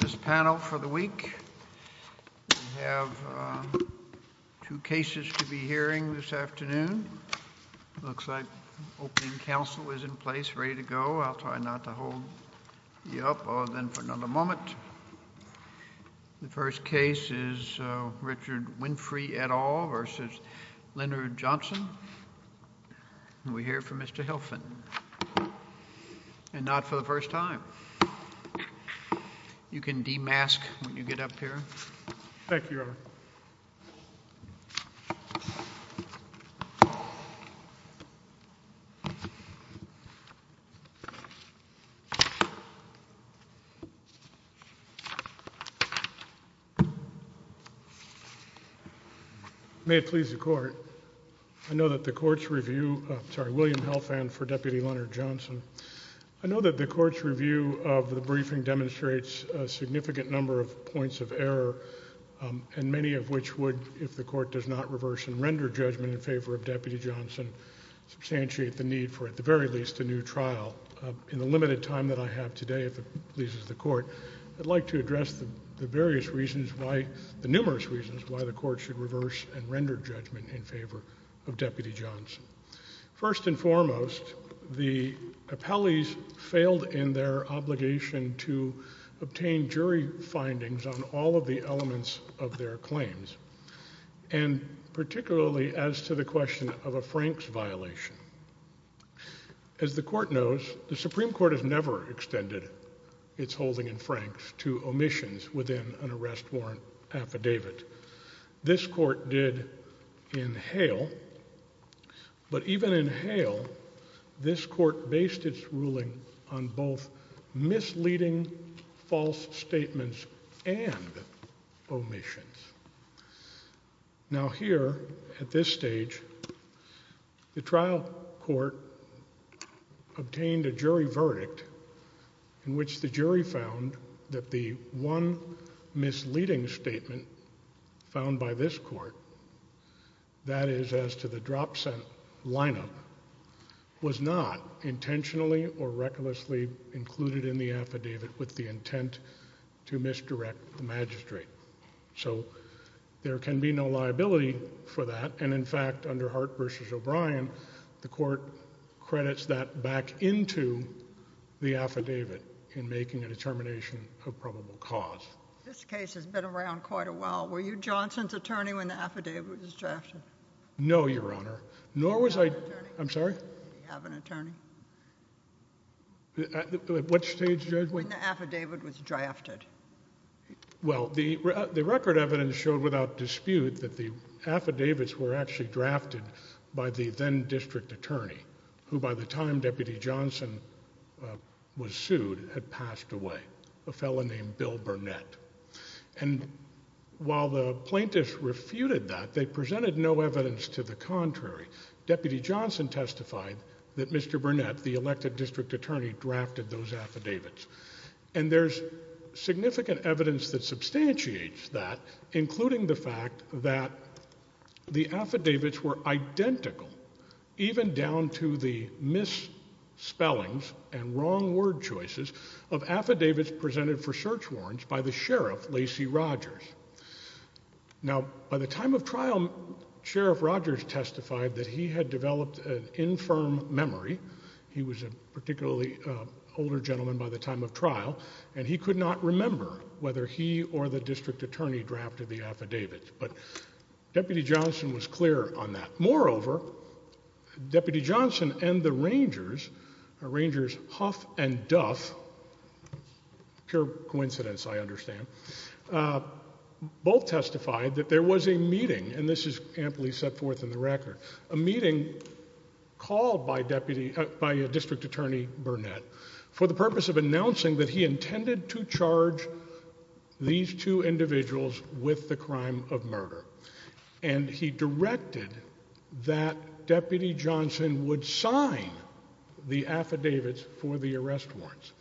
This panel for the week. We have two cases to be hearing this afternoon. Looks like opening counsel is in place, ready to go. I'll try not to hold you up for another moment. The first case is Richard Winfrey et al. v. Leonard Johnson. We hear from Mr. Hilfen. And not for the first time. You can de-mask when you get up here. Thank you, Your Honor. May it please the Court, I know that the Court's review, sorry, William Hilfen for Deputy Leonard Johnson, I know that the Court's review of the briefing demonstrates a significant number of points of judgment in favor of Deputy Johnson, substantiate the need for, at the very least, a new trial. In the limited time that I have today, if it pleases the Court, I'd like to address the various reasons why, the numerous reasons, why the Court should reverse and render judgment in favor of Deputy Johnson. First and foremost, the appellees failed in their obligation to obtain jury findings on all of the elements of their claims, and particularly as to the question of a Franks violation. As the Court knows, the Supreme Court has never extended its holding in Franks to omissions within an arrest warrant affidavit. This Court did in Hale, but even in Hale, this Court based its ruling on both misleading false statements and omissions. Now here, at this stage, the trial court obtained a jury verdict in which the jury found that the one misleading statement found by this Court, that is as to the drop sent lineup, was not intentionally or recklessly included in the affidavit with the intent to misdirect the magistrate. So there can be no liability for that, and in fact, under Hart v. O'Brien, the Court credits that back into the affidavit in making a determination of probable cause. This case has been around quite a while. Were you Johnson's attorney when the affidavit was drafted? No, Your Honor, nor was I, I'm sorry? Do you have an attorney? What stage, Judge? When the affidavit was drafted. Well, the record evidence showed without dispute that the affidavits were actually drafted by the then district attorney, who by the time Deputy Johnson was sued, had passed away, a fellow named the contrary. Deputy Johnson testified that Mr. Burnett, the elected district attorney, drafted those affidavits. And there's significant evidence that substantiates that, including the fact that the affidavits were identical, even down to the misspellings and wrong word choices of affidavits presented for search warrants by the sheriff, Lacey Rogers. Now, by the time of trial, Sheriff Rogers testified that he had developed an infirm memory. He was a particularly older gentleman by the time of trial, and he could not remember whether he or the district attorney drafted the affidavit. But Deputy Johnson was clear on that. Moreover, Deputy Johnson and the Rangers, Rangers Huff and Duff, pure coincidence, I understand, both testified that there was a meeting, and this is amply set forth in the record, a meeting called by a district attorney, Burnett, for the purpose of announcing that he intended to charge these two individuals with the crime of murder. And he directed that Deputy Johnson would sign the affidavits for the arrest warrants.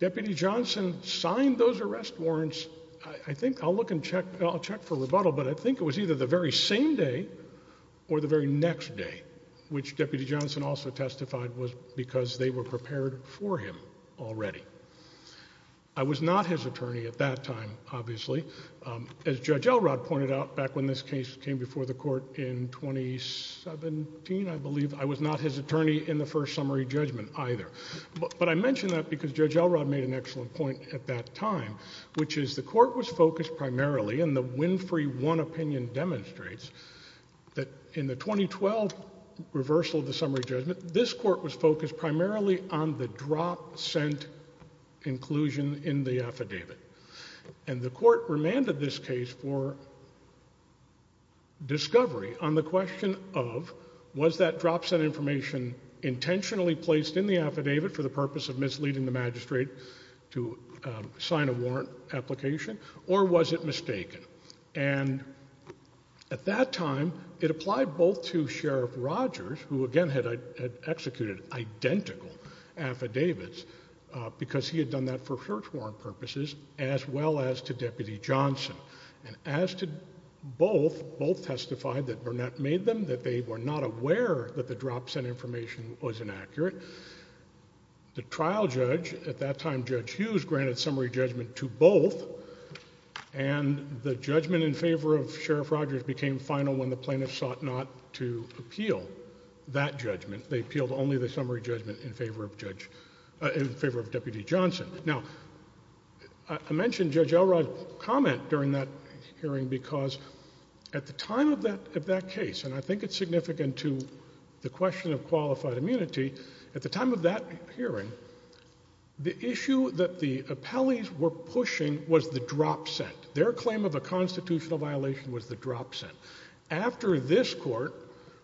Deputy Johnson signed those arrest warrants, I think, I'll look and check, I'll check for rebuttal, but I think it was either the very same day or the very next day, which Deputy Johnson also testified was because they were prepared for him already. I was not his attorney at that time, obviously. As Judge Elrod pointed out, when this case came before the court in 2017, I believe, I was not his attorney in the first summary judgment either. But I mention that because Judge Elrod made an excellent point at that time, which is the court was focused primarily, and the Winfrey 1 opinion demonstrates that in the 2012 reversal of the summary judgment, this court was focused primarily on the drop sent inclusion in the affidavit. And the court remanded this case for discovery on the question of was that drop sent information intentionally placed in the affidavit for the purpose of misleading the magistrate to sign a warrant application, or was it mistaken? And at that time, it applied both to Sheriff Rogers, who again had executed identical affidavits, because he had done that for search warrant purposes, as well as to Deputy Johnson. And as to both, both testified that Burnett made them, that they were not aware that the drop sent information was inaccurate. The trial judge at that time, Judge Hughes, granted summary judgment to both, and the judgment in favor of Sheriff Rogers became final when the plaintiffs sought to appeal that judgment. They appealed only the summary judgment in favor of Deputy Johnson. Now, I mentioned Judge Elrod's comment during that hearing because at the time of that case, and I think it's significant to the question of qualified immunity, at the time of that hearing, the issue that the appellees were pushing was the drop sent. Their claim of a constitutional violation was the drop sent. After this court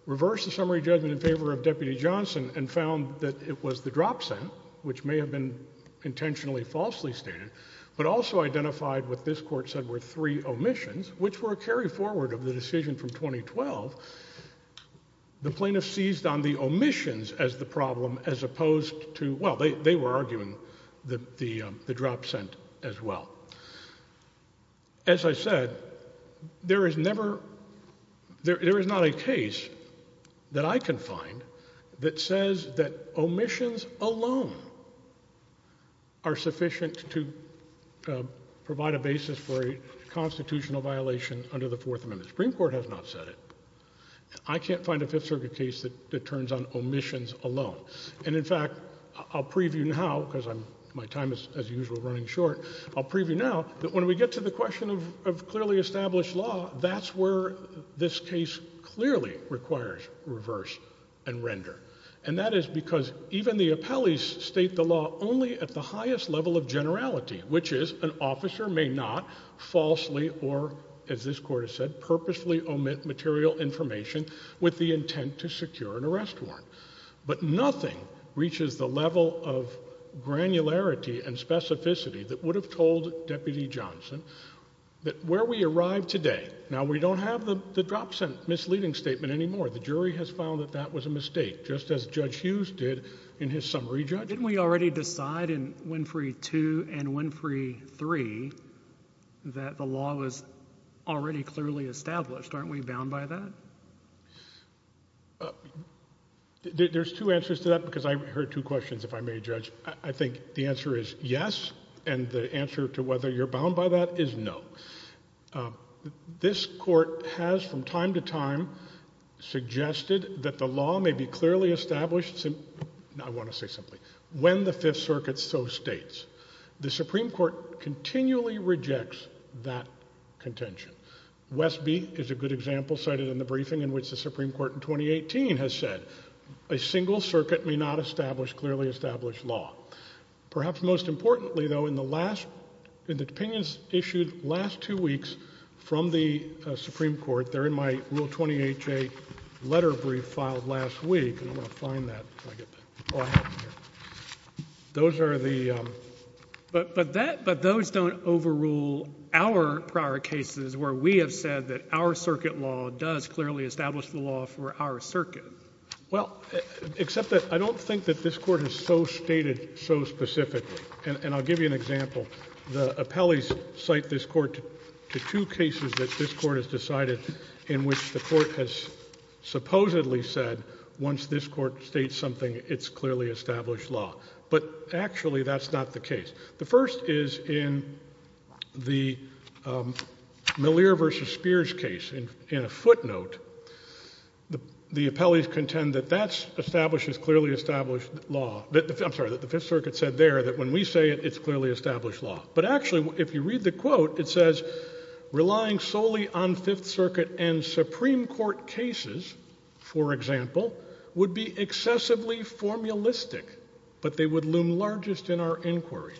reversed the summary judgment in favor of Deputy Johnson and found that it was the drop sent, which may have been intentionally falsely stated, but also identified what this court said were three omissions, which were carried forward of the decision from 2012, the plaintiffs seized on the omissions as the problem as opposed to, well, they were arguing the drop sent as well. As I said, there is never, there is not a case that I can find that says that omissions alone are sufficient to provide a basis for a constitutional violation under the Fourth Amendment. The Supreme Court has not said it. I can't find a Fifth Circuit case that turns on omissions alone. And in fact, I'll preview now because my time is, as usual, running short. I'll preview now that when we get to the question of clearly established law, that's where this case clearly requires reverse and render. And that is because even the appellees state the law only at the highest level of generality, which is an with the intent to secure an arrest warrant. But nothing reaches the level of granularity and specificity that would have told Deputy Johnson that where we arrive today, now we don't have the drop sent misleading statement anymore. The jury has found that that was a mistake, just as Judge Hughes did in his summary judgment. Didn't we already decide in Winfrey 2 and Winfrey 3 that the law was already clearly established? Aren't we bound by that? There's two answers to that because I heard two questions, if I may, Judge. I think the answer is yes. And the answer to whether you're bound by that is no. This Court has, from time to time, suggested that the law may be clearly established, I want to say simply, when the Fifth Circuit, the Supreme Court, continually rejects that contention. Westby is a good example cited in the briefing in which the Supreme Court in 2018 has said a single circuit may not establish clearly established law. Perhaps most importantly, though, in the last, in the opinions issued last two weeks from the Supreme Court, they're in my Rule 20HA letter brief filed last week, and I'm overruled our prior cases where we have said that our circuit law does clearly establish the law for our circuit. Well, except that I don't think that this Court has so stated so specifically. And I'll give you an example. The appellees cite this Court to two cases that this Court has decided in which the Court has supposedly said once this Court states something, it's clearly established law. But actually, that's not the case. The first is in the Malir v. Spears case. In a footnote, the appellees contend that that establishes clearly established law. I'm sorry, that the Fifth Circuit said there that when we say it, it's clearly established law. But actually, if you read the quote, it says, relying solely on Fifth Circuit and Supreme Court cases, for example, would be excessively formulistic, but they would loom largest in our inquiries.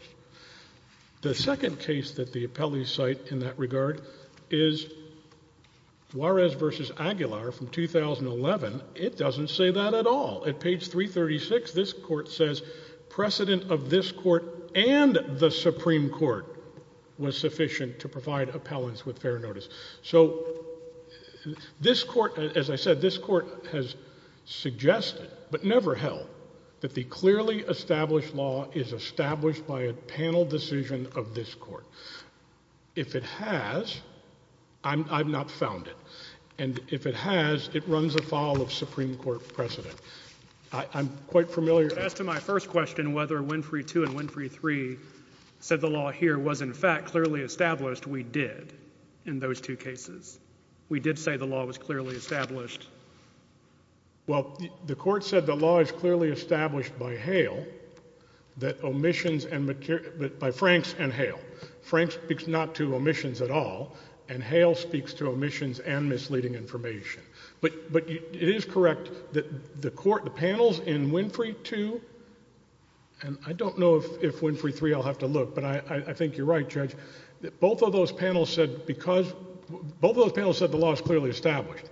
The second case that the appellees cite in that regard is Juarez v. Aguilar from 2011. It doesn't say that at all. At page 336, this Court says precedent of this Court and the Supreme Court was sufficient to provide appellants with fair notice. So this Court, as I said, this Court has suggested, but never held, that the clearly established law is established by a panel decision of this Court. If it has, I've not found it. And if it has, it runs afoul of Supreme Court precedent. I'm quite familiar... To my first question, whether Winfrey 2 and Winfrey 3 said the law here was, in fact, clearly established, we did in those two cases. We did say the law was clearly established. Well, the Court said the law is clearly established by Hale, that omissions and... by Franks and Hale. Franks speaks not to omissions at all, and Hale speaks to omissions and misleading information. But it is correct that the Court, the panels in Winfrey 2, and I don't know if Winfrey 3, I'll have to look, but I think you're right, Judge, that both of those panels said because... both of those panels said the law is clearly established.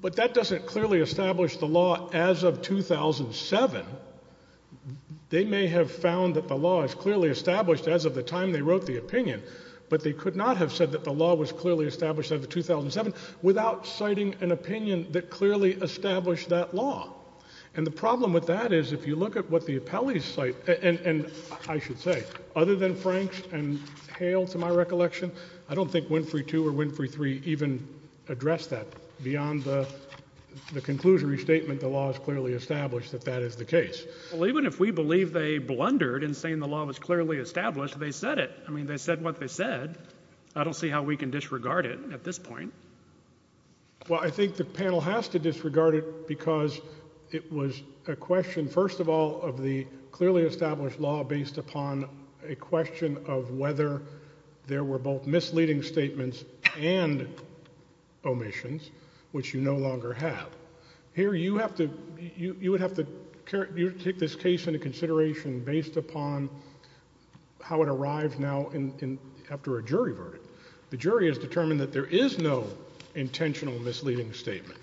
But that doesn't clearly establish the law as of 2007. They may have found that the law is clearly established as of the time they wrote the opinion, but they could not have said that the law was clearly established as of 2007 without citing an opinion that clearly established that law. And the problem with that is if you look at what the appellees cite, and I should say, other than Franks and Hale, to my recollection, I don't think Winfrey 2 or Winfrey 3 even address that beyond the conclusory statement the law is clearly established that that is the case. Well, even if we believe they blundered in saying the law was clearly established, they said it. I mean, they said what they said. I don't see how we can disregard it at this point. Well, I think the panel has to disregard it because it was a question, first of all, of the clearly established law based upon a question of whether there were both misleading statements and omissions, which you no longer have. Here, you would have to take this case into consideration based upon how it arrives now after a jury verdict. The jury is determined that there is no intentional misleading statement.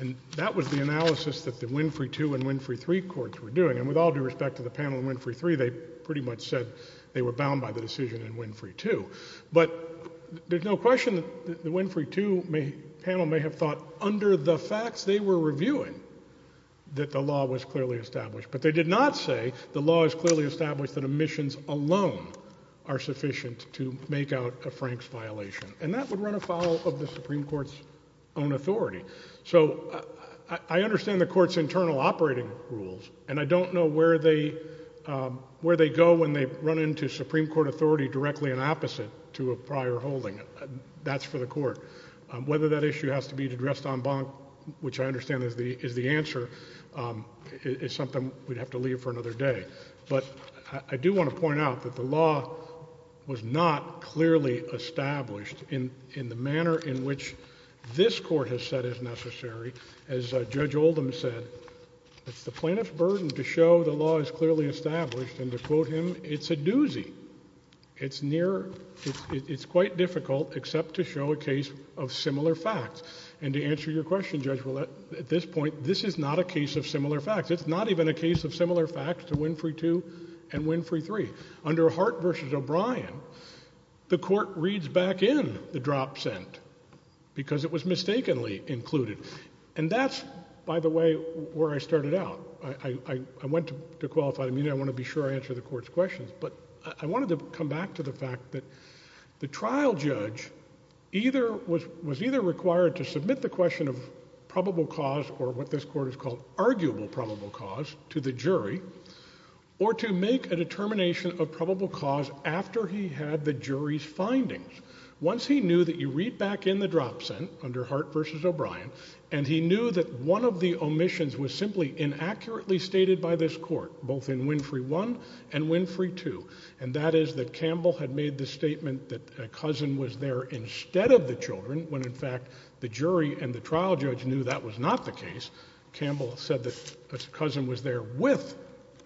And that was the analysis that the Winfrey 2 and Winfrey 3 courts were doing. And with all due respect to the panel in Winfrey 3, they pretty much said they were bound by the decision in Winfrey 2. But there's no question that the Winfrey 2 panel may have thought under the facts they were reviewing that the law was clearly established. But they did not say the law is clearly established that omissions alone are sufficient to make out a Franks violation. And that would run afoul of the Supreme Court's own authority. So I understand the Court's internal operating rules, and I don't know where they go when they run into Supreme Court authority directly and opposite to a prior holding. That's for the Court. Whether that issue has to be addressed en banc, which I understand is the answer, is something we'd have to leave for another day. But I do want to point out that the law was not clearly established in the manner in which this Court has said is necessary. As Judge Oldham said, it's the plaintiff's burden to show the law is clearly established, and to quote him, it's a doozy. It's quite difficult except to show a case of similar facts. And to answer your question, Judge, well, at this point, this is not a case of similar facts. It's not even a case of similar facts to Winfrey 2 and Winfrey 3. Under Hart v. O'Brien, the Court reads back in the drop sent because it was mistakenly included. And that's, by the way, where I started out. I went to qualified immunity. I want to be sure I answer the Court's questions. But I wanted to come back to the fact that the trial judge was either required to submit the question of probable cause or what this Court has called arguable probable cause to the jury, or to make a determination of probable cause after he had the jury's findings. Once he knew that you read back in the drop sent under Hart v. O'Brien, and he knew that one of the omissions was simply inaccurately stated by this Court, both in Winfrey 1 and Winfrey 2, and that is that Campbell had made the statement that a cousin was there instead of the children when, in fact, the jury and the trial judge knew that was not the case. Campbell said that a cousin was there with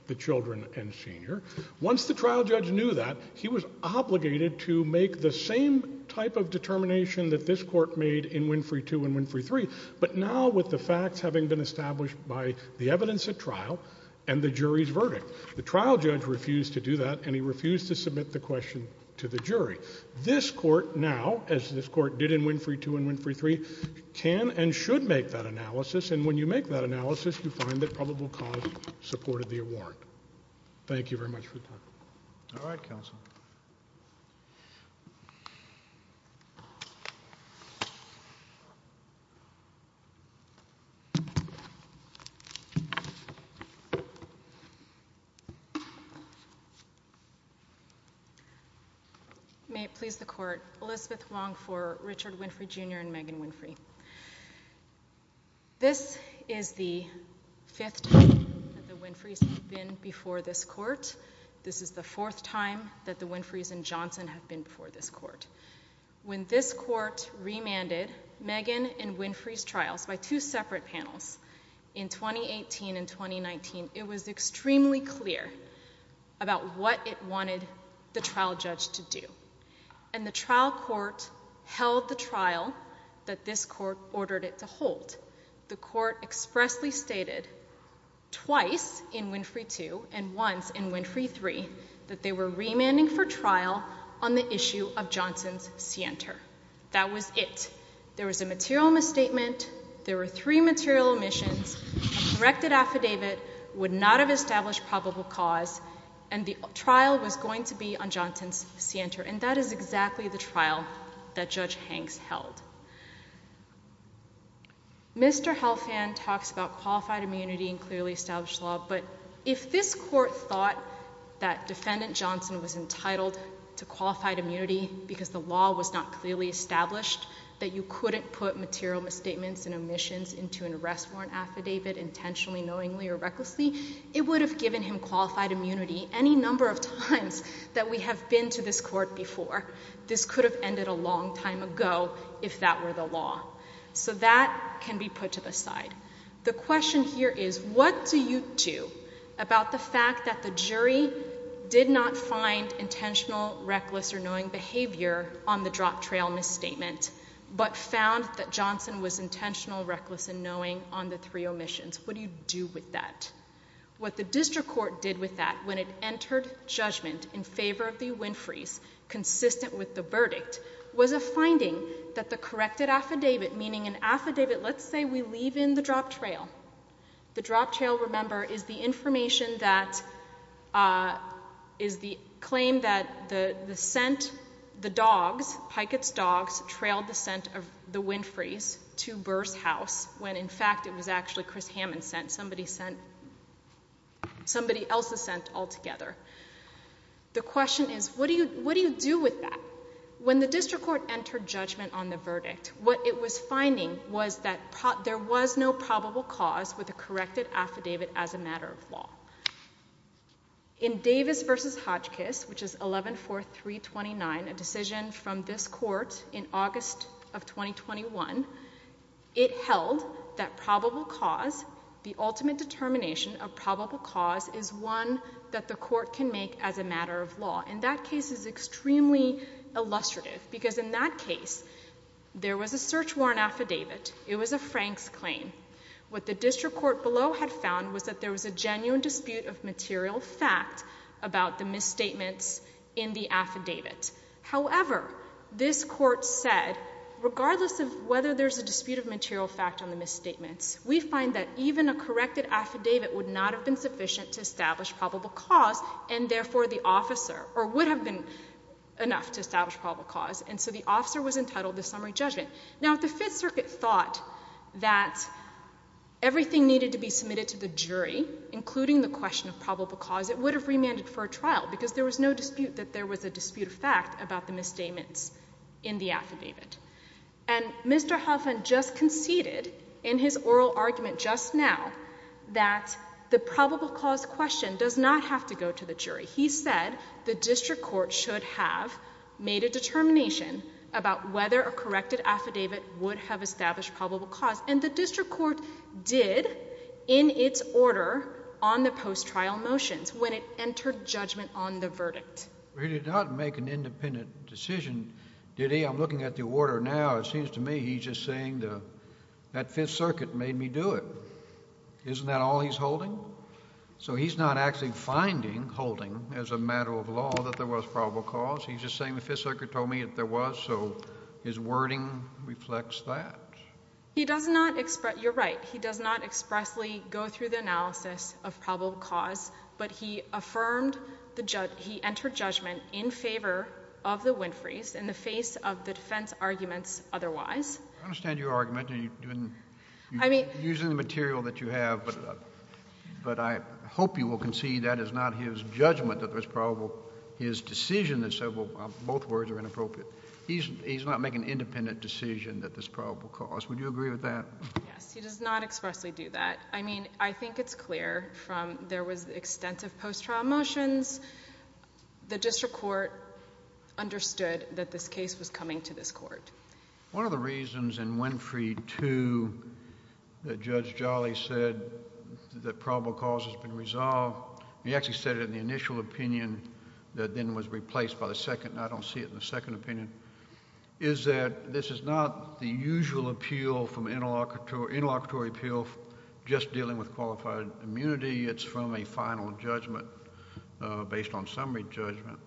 the children and senior. Once the trial judge knew that, he was obligated to make the same type of determination that this Court made in Winfrey 2 and Winfrey 3. But now, with the facts having been established by the evidence at trial and the jury's verdict, the trial judge refused to do that, and he refused to submit the question to the jury. This Court now, as this Court did in Winfrey 2 and Winfrey 3, can and should make that analysis, and when you make that analysis, you find that probable cause supported the award. Thank you very much for your time. All right, counsel. May it please the Court, Elizabeth Wong for Richard Winfrey, Jr. and Megan Winfrey. This is the fifth time that the Winfrey's have been before this Court. This is the fourth time that the Winfrey's and Johnson have been before this Court. When this Court remanded Megan and in 2018 and 2019, it was extremely clear about what it wanted the trial judge to do, and the trial court held the trial that this Court ordered it to hold. The Court expressly stated twice in Winfrey 2 and once in Winfrey 3 that they were remanding for trial on the issue of directed affidavit, would not have established probable cause, and the trial was going to be on Johnson's scienter, and that is exactly the trial that Judge Hanks held. Mr. Helfand talks about qualified immunity and clearly established law, but if this Court thought that Defendant Johnson was entitled to qualified immunity because the law was not clearly established, that you couldn't put material misstatements and omissions into an arrest warrant affidavit intentionally, knowingly, or recklessly, it would have given him qualified immunity any number of times that we have been to this Court before. This could have ended a long time ago if that were the law. So that can be put to the side. The question here is what do you do about the fact that the jury did not find intentional, reckless, or knowing behavior on the drop trail misstatement, but found that Johnson was intentional, reckless, and knowing on the three omissions? What do you do with that? What the District Court did with that when it entered judgment in favor of the Winfrey's, consistent with the verdict, was a finding that the corrected affidavit, meaning an affidavit, let's say we leave in the drop trail. The drop trail, remember, is the information that is the claim that the scent, the dogs, Pikett's dogs, trailed the scent of the Winfrey's to Burr's house when in fact it was actually Chris Hammond's scent, somebody else's scent altogether. The question is what do you do with that? When the District Court entered judgment on the verdict, what it was finding was that there was no probable cause with a corrected affidavit as a matter of law. In Davis v. Hodgkiss, which is 11-4-329, a decision from this court in August of 2021, it held that probable cause, the ultimate determination of probable cause is one that the court can make as a matter of law. And that case is extremely illustrative because in that claim, what the District Court below had found was that there was a genuine dispute of material fact about the misstatements in the affidavit. However, this court said, regardless of whether there's a dispute of material fact on the misstatements, we find that even a corrected affidavit would not have been sufficient to establish probable cause and therefore the officer, or would have been enough to establish probable cause, and so the officer was entitled to summary judgment. Now, if the Fifth Circuit thought that everything needed to be submitted to the jury, including the question of probable cause, it would have remanded for a trial because there was no dispute that there was a dispute of fact about the misstatements in the affidavit. And Mr. Hoffman just conceded in his oral argument just now that the probable cause question does not have to go to the jury. He said the District Court should have made a determination about whether a corrected affidavit would have established probable cause, and the District Court did in its order on the post-trial motions when it entered judgment on the verdict. He did not make an independent decision, did he? I'm looking at the order now. It seems to me he's just saying that Fifth Circuit made me do it. Isn't that all he's holding? So he's not actually finding, holding as a matter of law that there was probable cause. He's just saying the Fifth Circuit told me that there was, so his wording reflects that. He does not express, you're right, he does not expressly go through the analysis of probable cause, but he affirmed the judge, he entered judgment in favor of the Winfrey's in the face of the defense arguments otherwise. I understand your argument and you didn't, I mean, using the material that you have, but I hope you will concede that is not his judgment that there's probable, his decision that said, well, both words are inappropriate. He's not making an independent decision that there's probable cause. Would you agree with that? Yes, he does not expressly do that. I mean, I think it's clear from there was extensive post-trial motions, the District Court understood that this case was coming to this Court. One of the reasons in Winfrey 2 that Judge Jolly said that probable cause has been resolved, he actually said it in the initial opinion that then was replaced by the second, and I don't see it in the second opinion, is that this is not the usual appeal from interlocutor, interlocutory appeal just dealing with qualified immunity. It's from a final judgment based on summary judgment.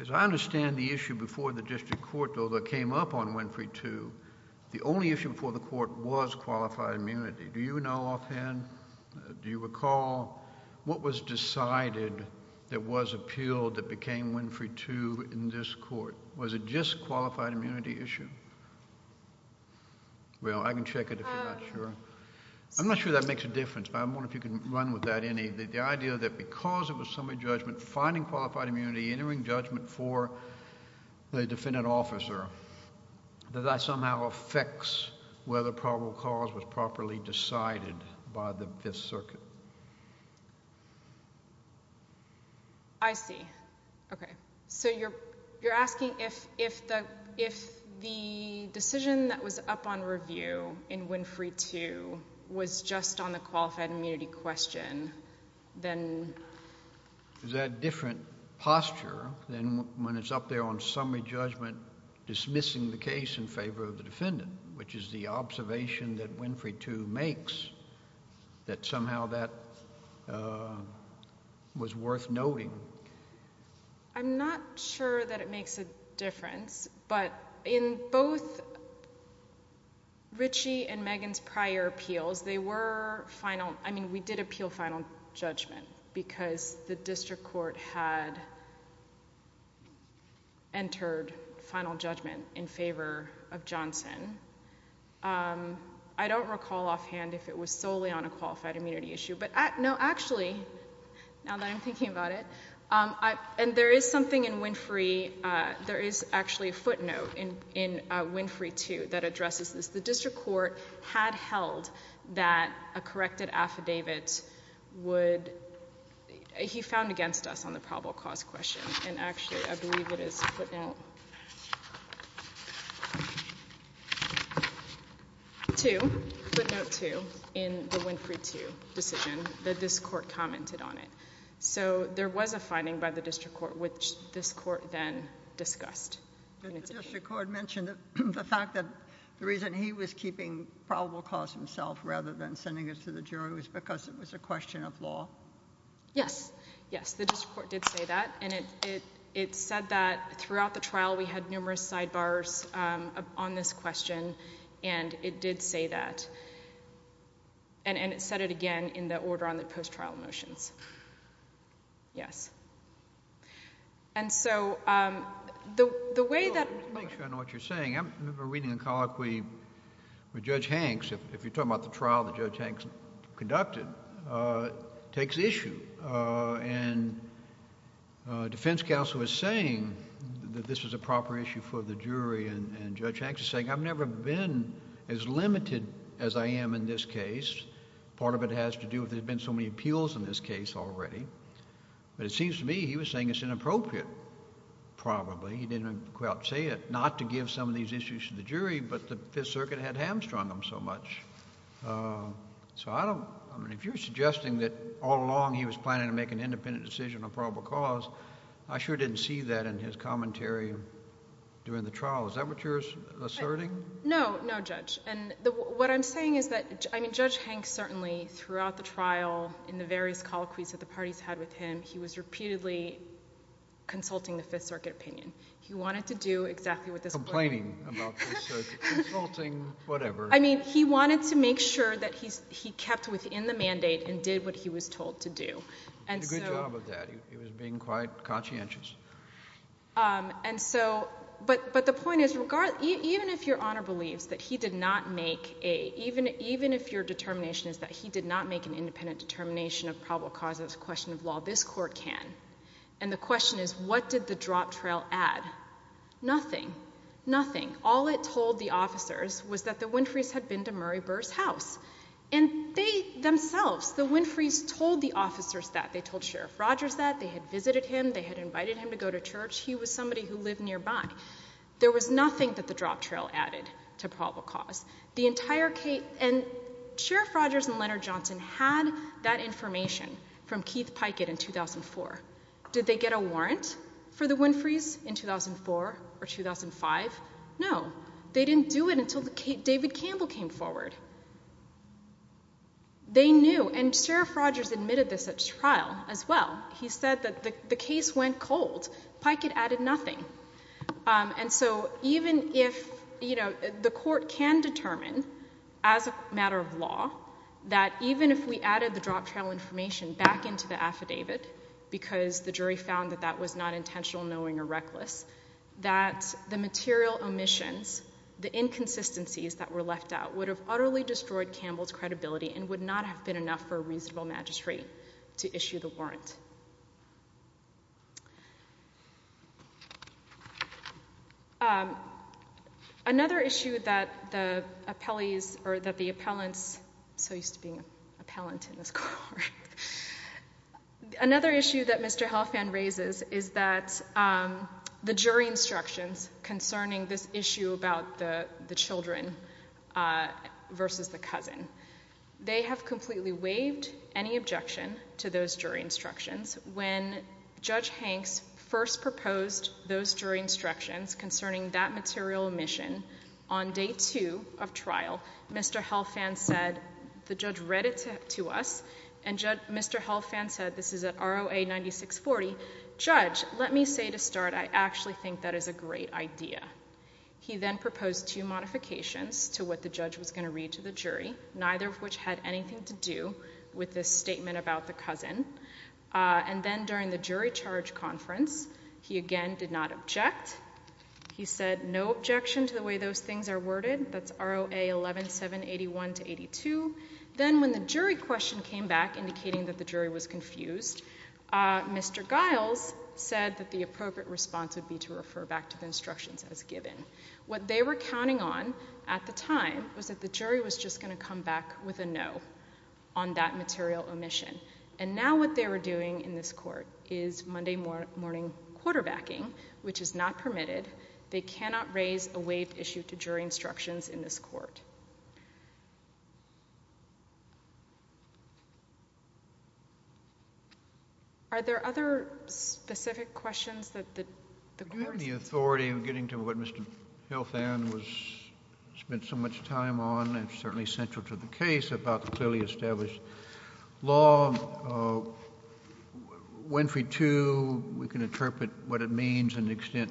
As I understand the issue before the District Court, though, that came up on Winfrey 2, the only issue before the Court was qualified immunity. Do you know offhand, do you recall what was decided that was appealed that became Winfrey 2 in this Court? Was it just qualified immunity issue? Well, I can check it if you're not sure. I'm not sure that makes a difference, but I'm wondering if you can run with that, Annie, the idea that because it was summary judgment, finding qualified immunity, entering judgment for the defendant officer, does that somehow affect whether probable cause was properly decided by the Fifth Circuit? I see. Okay. So you're asking if the decision that was up on review in Winfrey 2 was just on the qualified immunity question, then? Is that a different posture than when it's up there on summary judgment dismissing the case in favor of the defendant, which is the observation that Winfrey 2 makes, that somehow that was worth noting? I'm not sure that it makes a difference, but in both Richie and Megan's prior appeals, they were final. I mean, we did appeal final judgment because the District Court had entered final judgment in favor of Johnson. I don't recall offhand if it was solely on a qualified immunity issue, but no, actually, now that I'm thinking about it, and there is something in Winfrey, there is actually a footnote in Winfrey 2 that addresses this. The District Court had held that a corrected affidavit would, he found against us on the probable cause question, and actually, I believe it is footnote 2, footnote 2 in the Winfrey 2 decision that this court then discussed. Did the District Court mention that the fact that the reason he was keeping probable cause himself rather than sending it to the jury was because it was a question of law? Yes. Yes, the District Court did say that, and it said that throughout the trial, we had numerous sidebars on this question, and it did say that, and it said it again in the order on the post-trial motions. Yes. And so, the way that... Well, just to make sure I know what you're saying, I remember reading a colloquy where Judge Hanks, if you're talking about the trial that Judge Hanks conducted, takes issue, and defense counsel was saying that this was a proper issue for the jury, and Judge Hanks is saying, I've never been as limited as I am in this case. Part of it has to do with there's been so many appeals in this case already, but it seems to me he was saying it's inappropriate, probably. He didn't quite say it, not to give some of these issues to the jury, but the Fifth Circuit had hamstrung him so much. So, I don't... I mean, if you're suggesting that all along he was planning to make an independent decision on probable cause, I sure didn't see that in his commentary during the trial. Is that what you're asserting? No, no, Judge. And what I'm saying is that, I mean, Judge Hanks certainly, throughout the trial, in the various colloquies that the parties had with him, he was repeatedly consulting the Fifth Circuit opinion. He wanted to do exactly what this... Complaining about the Fifth Circuit, consulting whatever. I mean, he wanted to make sure that he kept within the mandate and did what he was told to do. He did a good job of that. He was being quite conscientious. And so... But the point is, even if Your Honor believes that he did not make a... Even if your determination is that he did not make an independent determination of probable cause, it's a question of law. This Court can. And the question is, what did the drop trail add? Nothing. Nothing. All it told the officers was that the Winfrey's had been to Murray Burr's house. And they, themselves, the Winfrey's told the officers that. They told Sheriff Rogers that. They had visited him. They had invited him to go to church. He was somebody who lived nearby. There was nothing that the drop trail added to probable cause. The entire case... And Sheriff Rogers and Leonard Johnson had that information from Keith Pikett in 2004. Did they get a warrant for the Winfrey's in 2004 or 2005? No. They didn't do it until David Campbell came forward. They knew. And Sheriff Rogers admitted this at trial, as well. He said that the case went cold. Pikett added nothing. And so, even if... You know, the Court can determine, as a matter of law, that even if we added the drop trail information back into the affidavit, because the jury found that that was not intentional, knowing, or reckless, that the material omissions, the inconsistencies that were left out, would have utterly destroyed Campbell's credibility and would not have been enough for a reasonable magistrate to issue the warrant. Another issue that the appellees, or that the appellants... I'm so used to being the jury instructions concerning this issue about the children versus the cousin. They have completely waived any objection to those jury instructions. When Judge Hanks first proposed those jury instructions concerning that material omission on day two of trial, Mr. Helfand said... The judge read it to us, and Mr. Helfand said... This is at ROA 9640. Judge, let me say to start, I actually think that is a great idea. He then proposed two modifications to what the judge was going to read to the jury, neither of which had anything to do with this statement about the cousin. And then, during the jury charge conference, he again did not object. He said no objection to the way those things are worded. That's ROA 11781-82. Then, when the jury question came back indicating that the jury was confused, Mr. Giles said that the appropriate response would be to refer back to the instructions as given. What they were counting on at the time was that the jury was just going to come back with a no on that material omission. And now, what they were doing in this court is Monday morning quarterbacking, which is not permitted. They cannot raise a waived issue to jury instructions in this court. Are there other specific questions that the court... Given the authority of getting to what Mr. Helfand spent so much time on, and certainly central to the case, about the clearly established law, Winfrey II, we can interpret what it means and the extent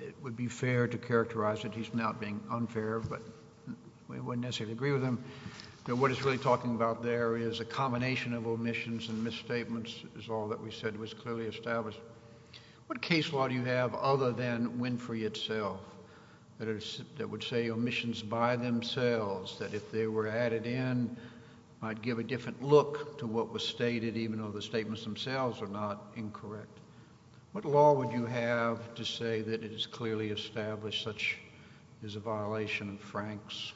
it would be fair to characterize it. He's not being unfair, but we wouldn't necessarily agree with him. What he's really talking about is a combination of omissions and misstatements is all that we said was clearly established. What case law do you have other than Winfrey itself that would say omissions by themselves, that if they were added in might give a different look to what was stated, even though the statements themselves are not incorrect? What law would you have to say that it is clearly established such is a violation of Franks?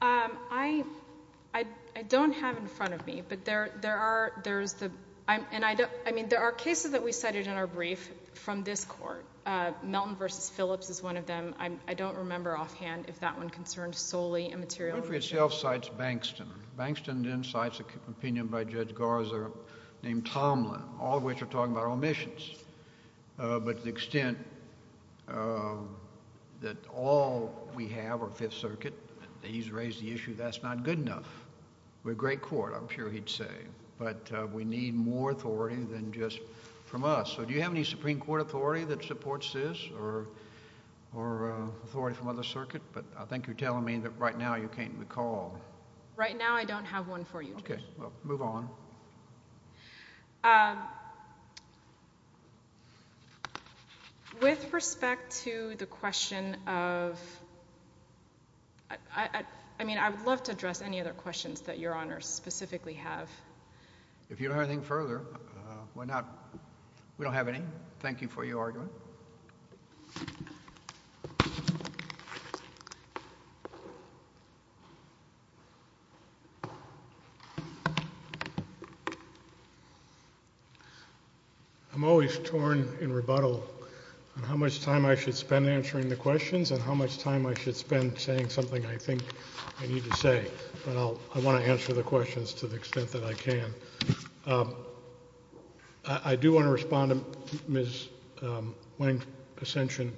I don't have in front of me, but there are... I mean, there are cases that we cited in our brief from this court. Melton v. Phillips is one of them. I don't remember offhand if that one concerned solely a material... Winfrey itself cites Bankston. Bankston then cites an opinion by Judge Garza named Tomlin, all of which are talking about omissions, but to the extent that all we have are Fifth Circuit, he's raised the issue that's not good enough. We're a great court, I'm sure he'd say, but we need more authority than just from us. So do you have any Supreme Court authority that supports this or authority from other circuit? But I think you're telling me that right now you can't recall. Right now I don't have one for you. Move on. With respect to the question of... I mean, I would love to address any other questions that Your Honor specifically have. If you don't have anything further, we don't have any. Thank you for your argument. I'm always torn in rebuttal on how much time I should spend answering the questions and how much time I should spend saying something I think I need to say, but I want to answer the questions to the extent that I can. I do want to respond to Ms. Wang's assention.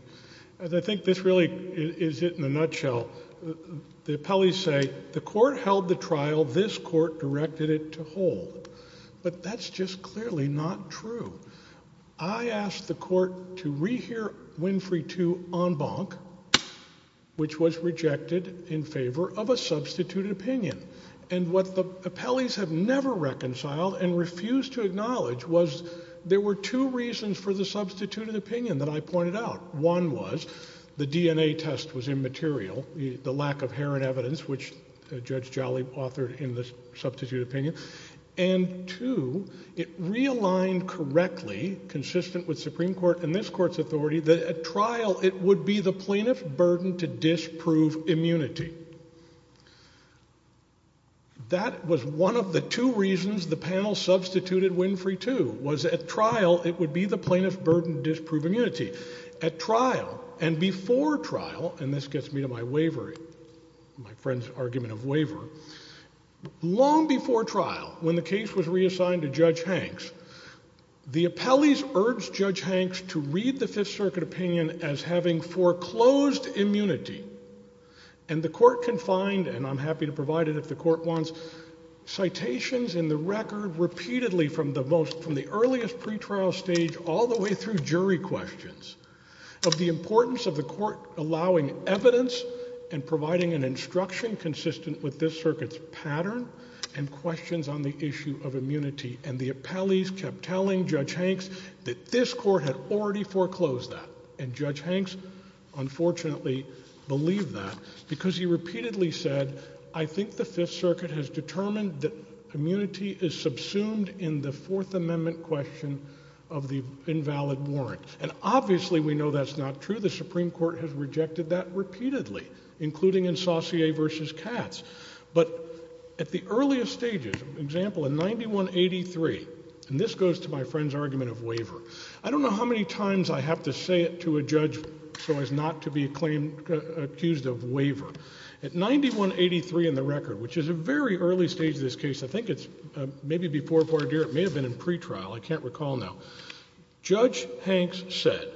I think this really is it in a nutshell. The appellees say the court held the trial, this court directed it to hold, but that's just clearly not true. I asked the court to rehear Winfrey II en banc, which was rejected in favor of a substituted opinion, and what the appellees have never reconciled and refused to acknowledge was there were two reasons for the substituted opinion that I pointed out. One was the DNA test was immaterial, the lack of herring evidence, which Judge Jolly authored in the substituted opinion, and two, it realigned correctly, consistent with Supreme Court and this court's authority, that at trial it would be the plaintiff burdened to disprove immunity. That was one of the two reasons the panel substituted Winfrey II, was at trial it would be the plaintiff burdened to disprove immunity. At trial and before trial, and this gets me to my wavering, my friend's argument of waver, long before trial when the case was reassigned to Judge Hanks, the appellees urged Judge Hanks to read the Fifth Circuit opinion as having foreclosed immunity, and the court can find, and I'm happy to provide it if the court wants, citations in the record repeatedly from the earliest pre-trial stage all the way through jury questions of the importance of the court allowing evidence and providing an instruction consistent with this circuit's pattern and questions on the issue of immunity, and the appellees kept telling Judge Hanks that this court had already foreclosed that, and Judge Hanks unfortunately believed that because he repeatedly said, I think the Fifth Circuit has determined that immunity is subsumed in the Fourth Amendment question of the invalid warrant, and obviously we know that's not true. The Supreme Court has rejected that repeatedly, including in Saussure versus Katz, but at the earliest stages, example in 9183, and this goes to my friend's argument of waiver. I don't know how many times I have to say it to a judge so as not to be accused of waiver. At 9183 in the record, which is a very early stage of this case, I think it's maybe before voir dire, it may have been in pre-trial, I can't recall now, Judge Hanks said,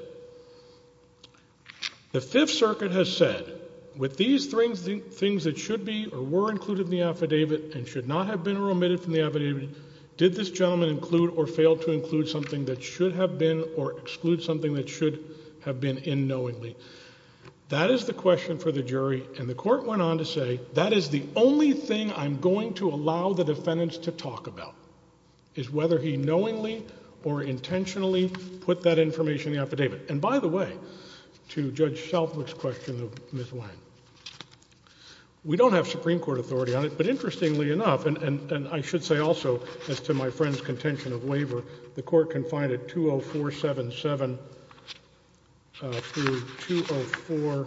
the Fifth Circuit has said, with these three things that should be or were included in the affidavit and should not have been or omitted from the affidavit, did this gentleman include or fail to include something that should have been or exclude something that should have been in knowingly? That is the question for the jury, and the Court went on to say, that is the only thing I'm going to allow the defendant to talk about, is whether he knowingly or intentionally put that information in the affidavit. And by the way, to Judge Shelford's question of Ms. Wang, we don't have Supreme Court authority on it, but interestingly enough, and I should say also, as to my friend's contention of waiver, the Court can find at 20477 through 204,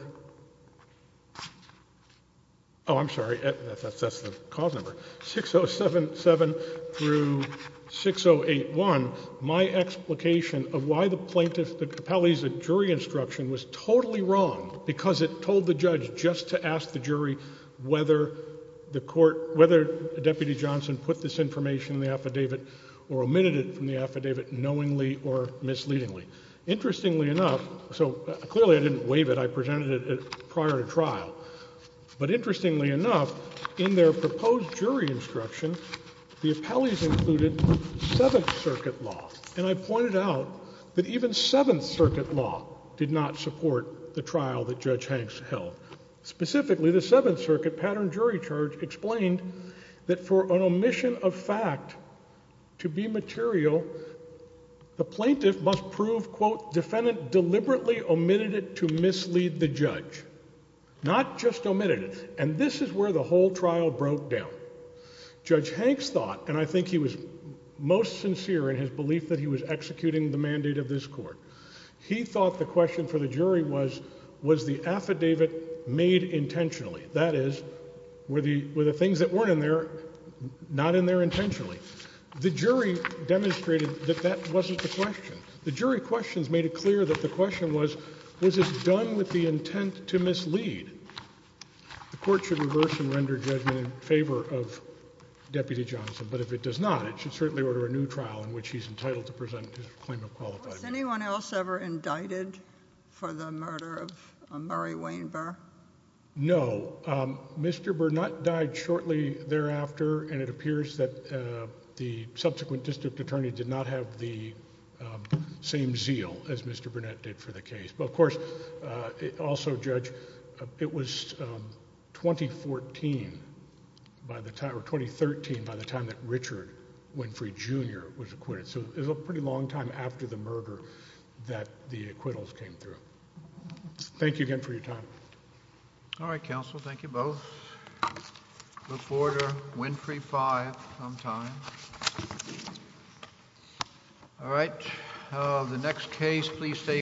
oh, I'm sorry, that's the cause number, 6077 through 6081, my explication of why the plaintiff, the Capelli's jury instruction was totally wrong, because it told the judge just to ask the jury whether the Court, whether Deputy Johnson put this information in the affidavit or omitted it from the affidavit knowingly or misleadingly. Interestingly enough, so clearly I didn't waive it, I presented it prior to trial, but interestingly enough, in their proposed jury instruction, the Capelli's included Seventh Circuit law, and I pointed out that even Seventh Circuit law did not support the trial that Judge Hanks held. Specifically, the Seventh Circuit pattern jury charge explained that for an omission of fact to be material, the plaintiff must prove, quote, defendant deliberately omitted it to mislead the judge, not just omitted it. And this is where the whole trial broke down. Judge Hanks thought, and I think he was most sincere in his belief that he was executing the mandate of this Court, he thought the question for the jury was, was the affidavit made intentionally? That is, were the things that weren't in there not in there intentionally? The jury demonstrated that that wasn't the question. The jury questions made it clear that the question was, was this done with the intent to mislead? The Court should reverse and render judgment in favor of Deputy Johnson, but if it does not, it should certainly order a new trial in which he's entitled to present his claim of qualification. Was anyone else ever indicted for the murder of Murray Weinberg? No. Mr. Burnett died shortly thereafter, and it appears that the subsequent district attorney did not have the same zeal as Mr. Burnett did for the case. But of course, also, Judge, it was 2013 by the time that Richard Winfrey Jr. was acquitted. So it was a pretty long time after the murder that the acquittals came through. Thank you again for your time. All right, counsel. Thank you both. Look forward to Winfrey 5 sometime. All right. The next case, please stay.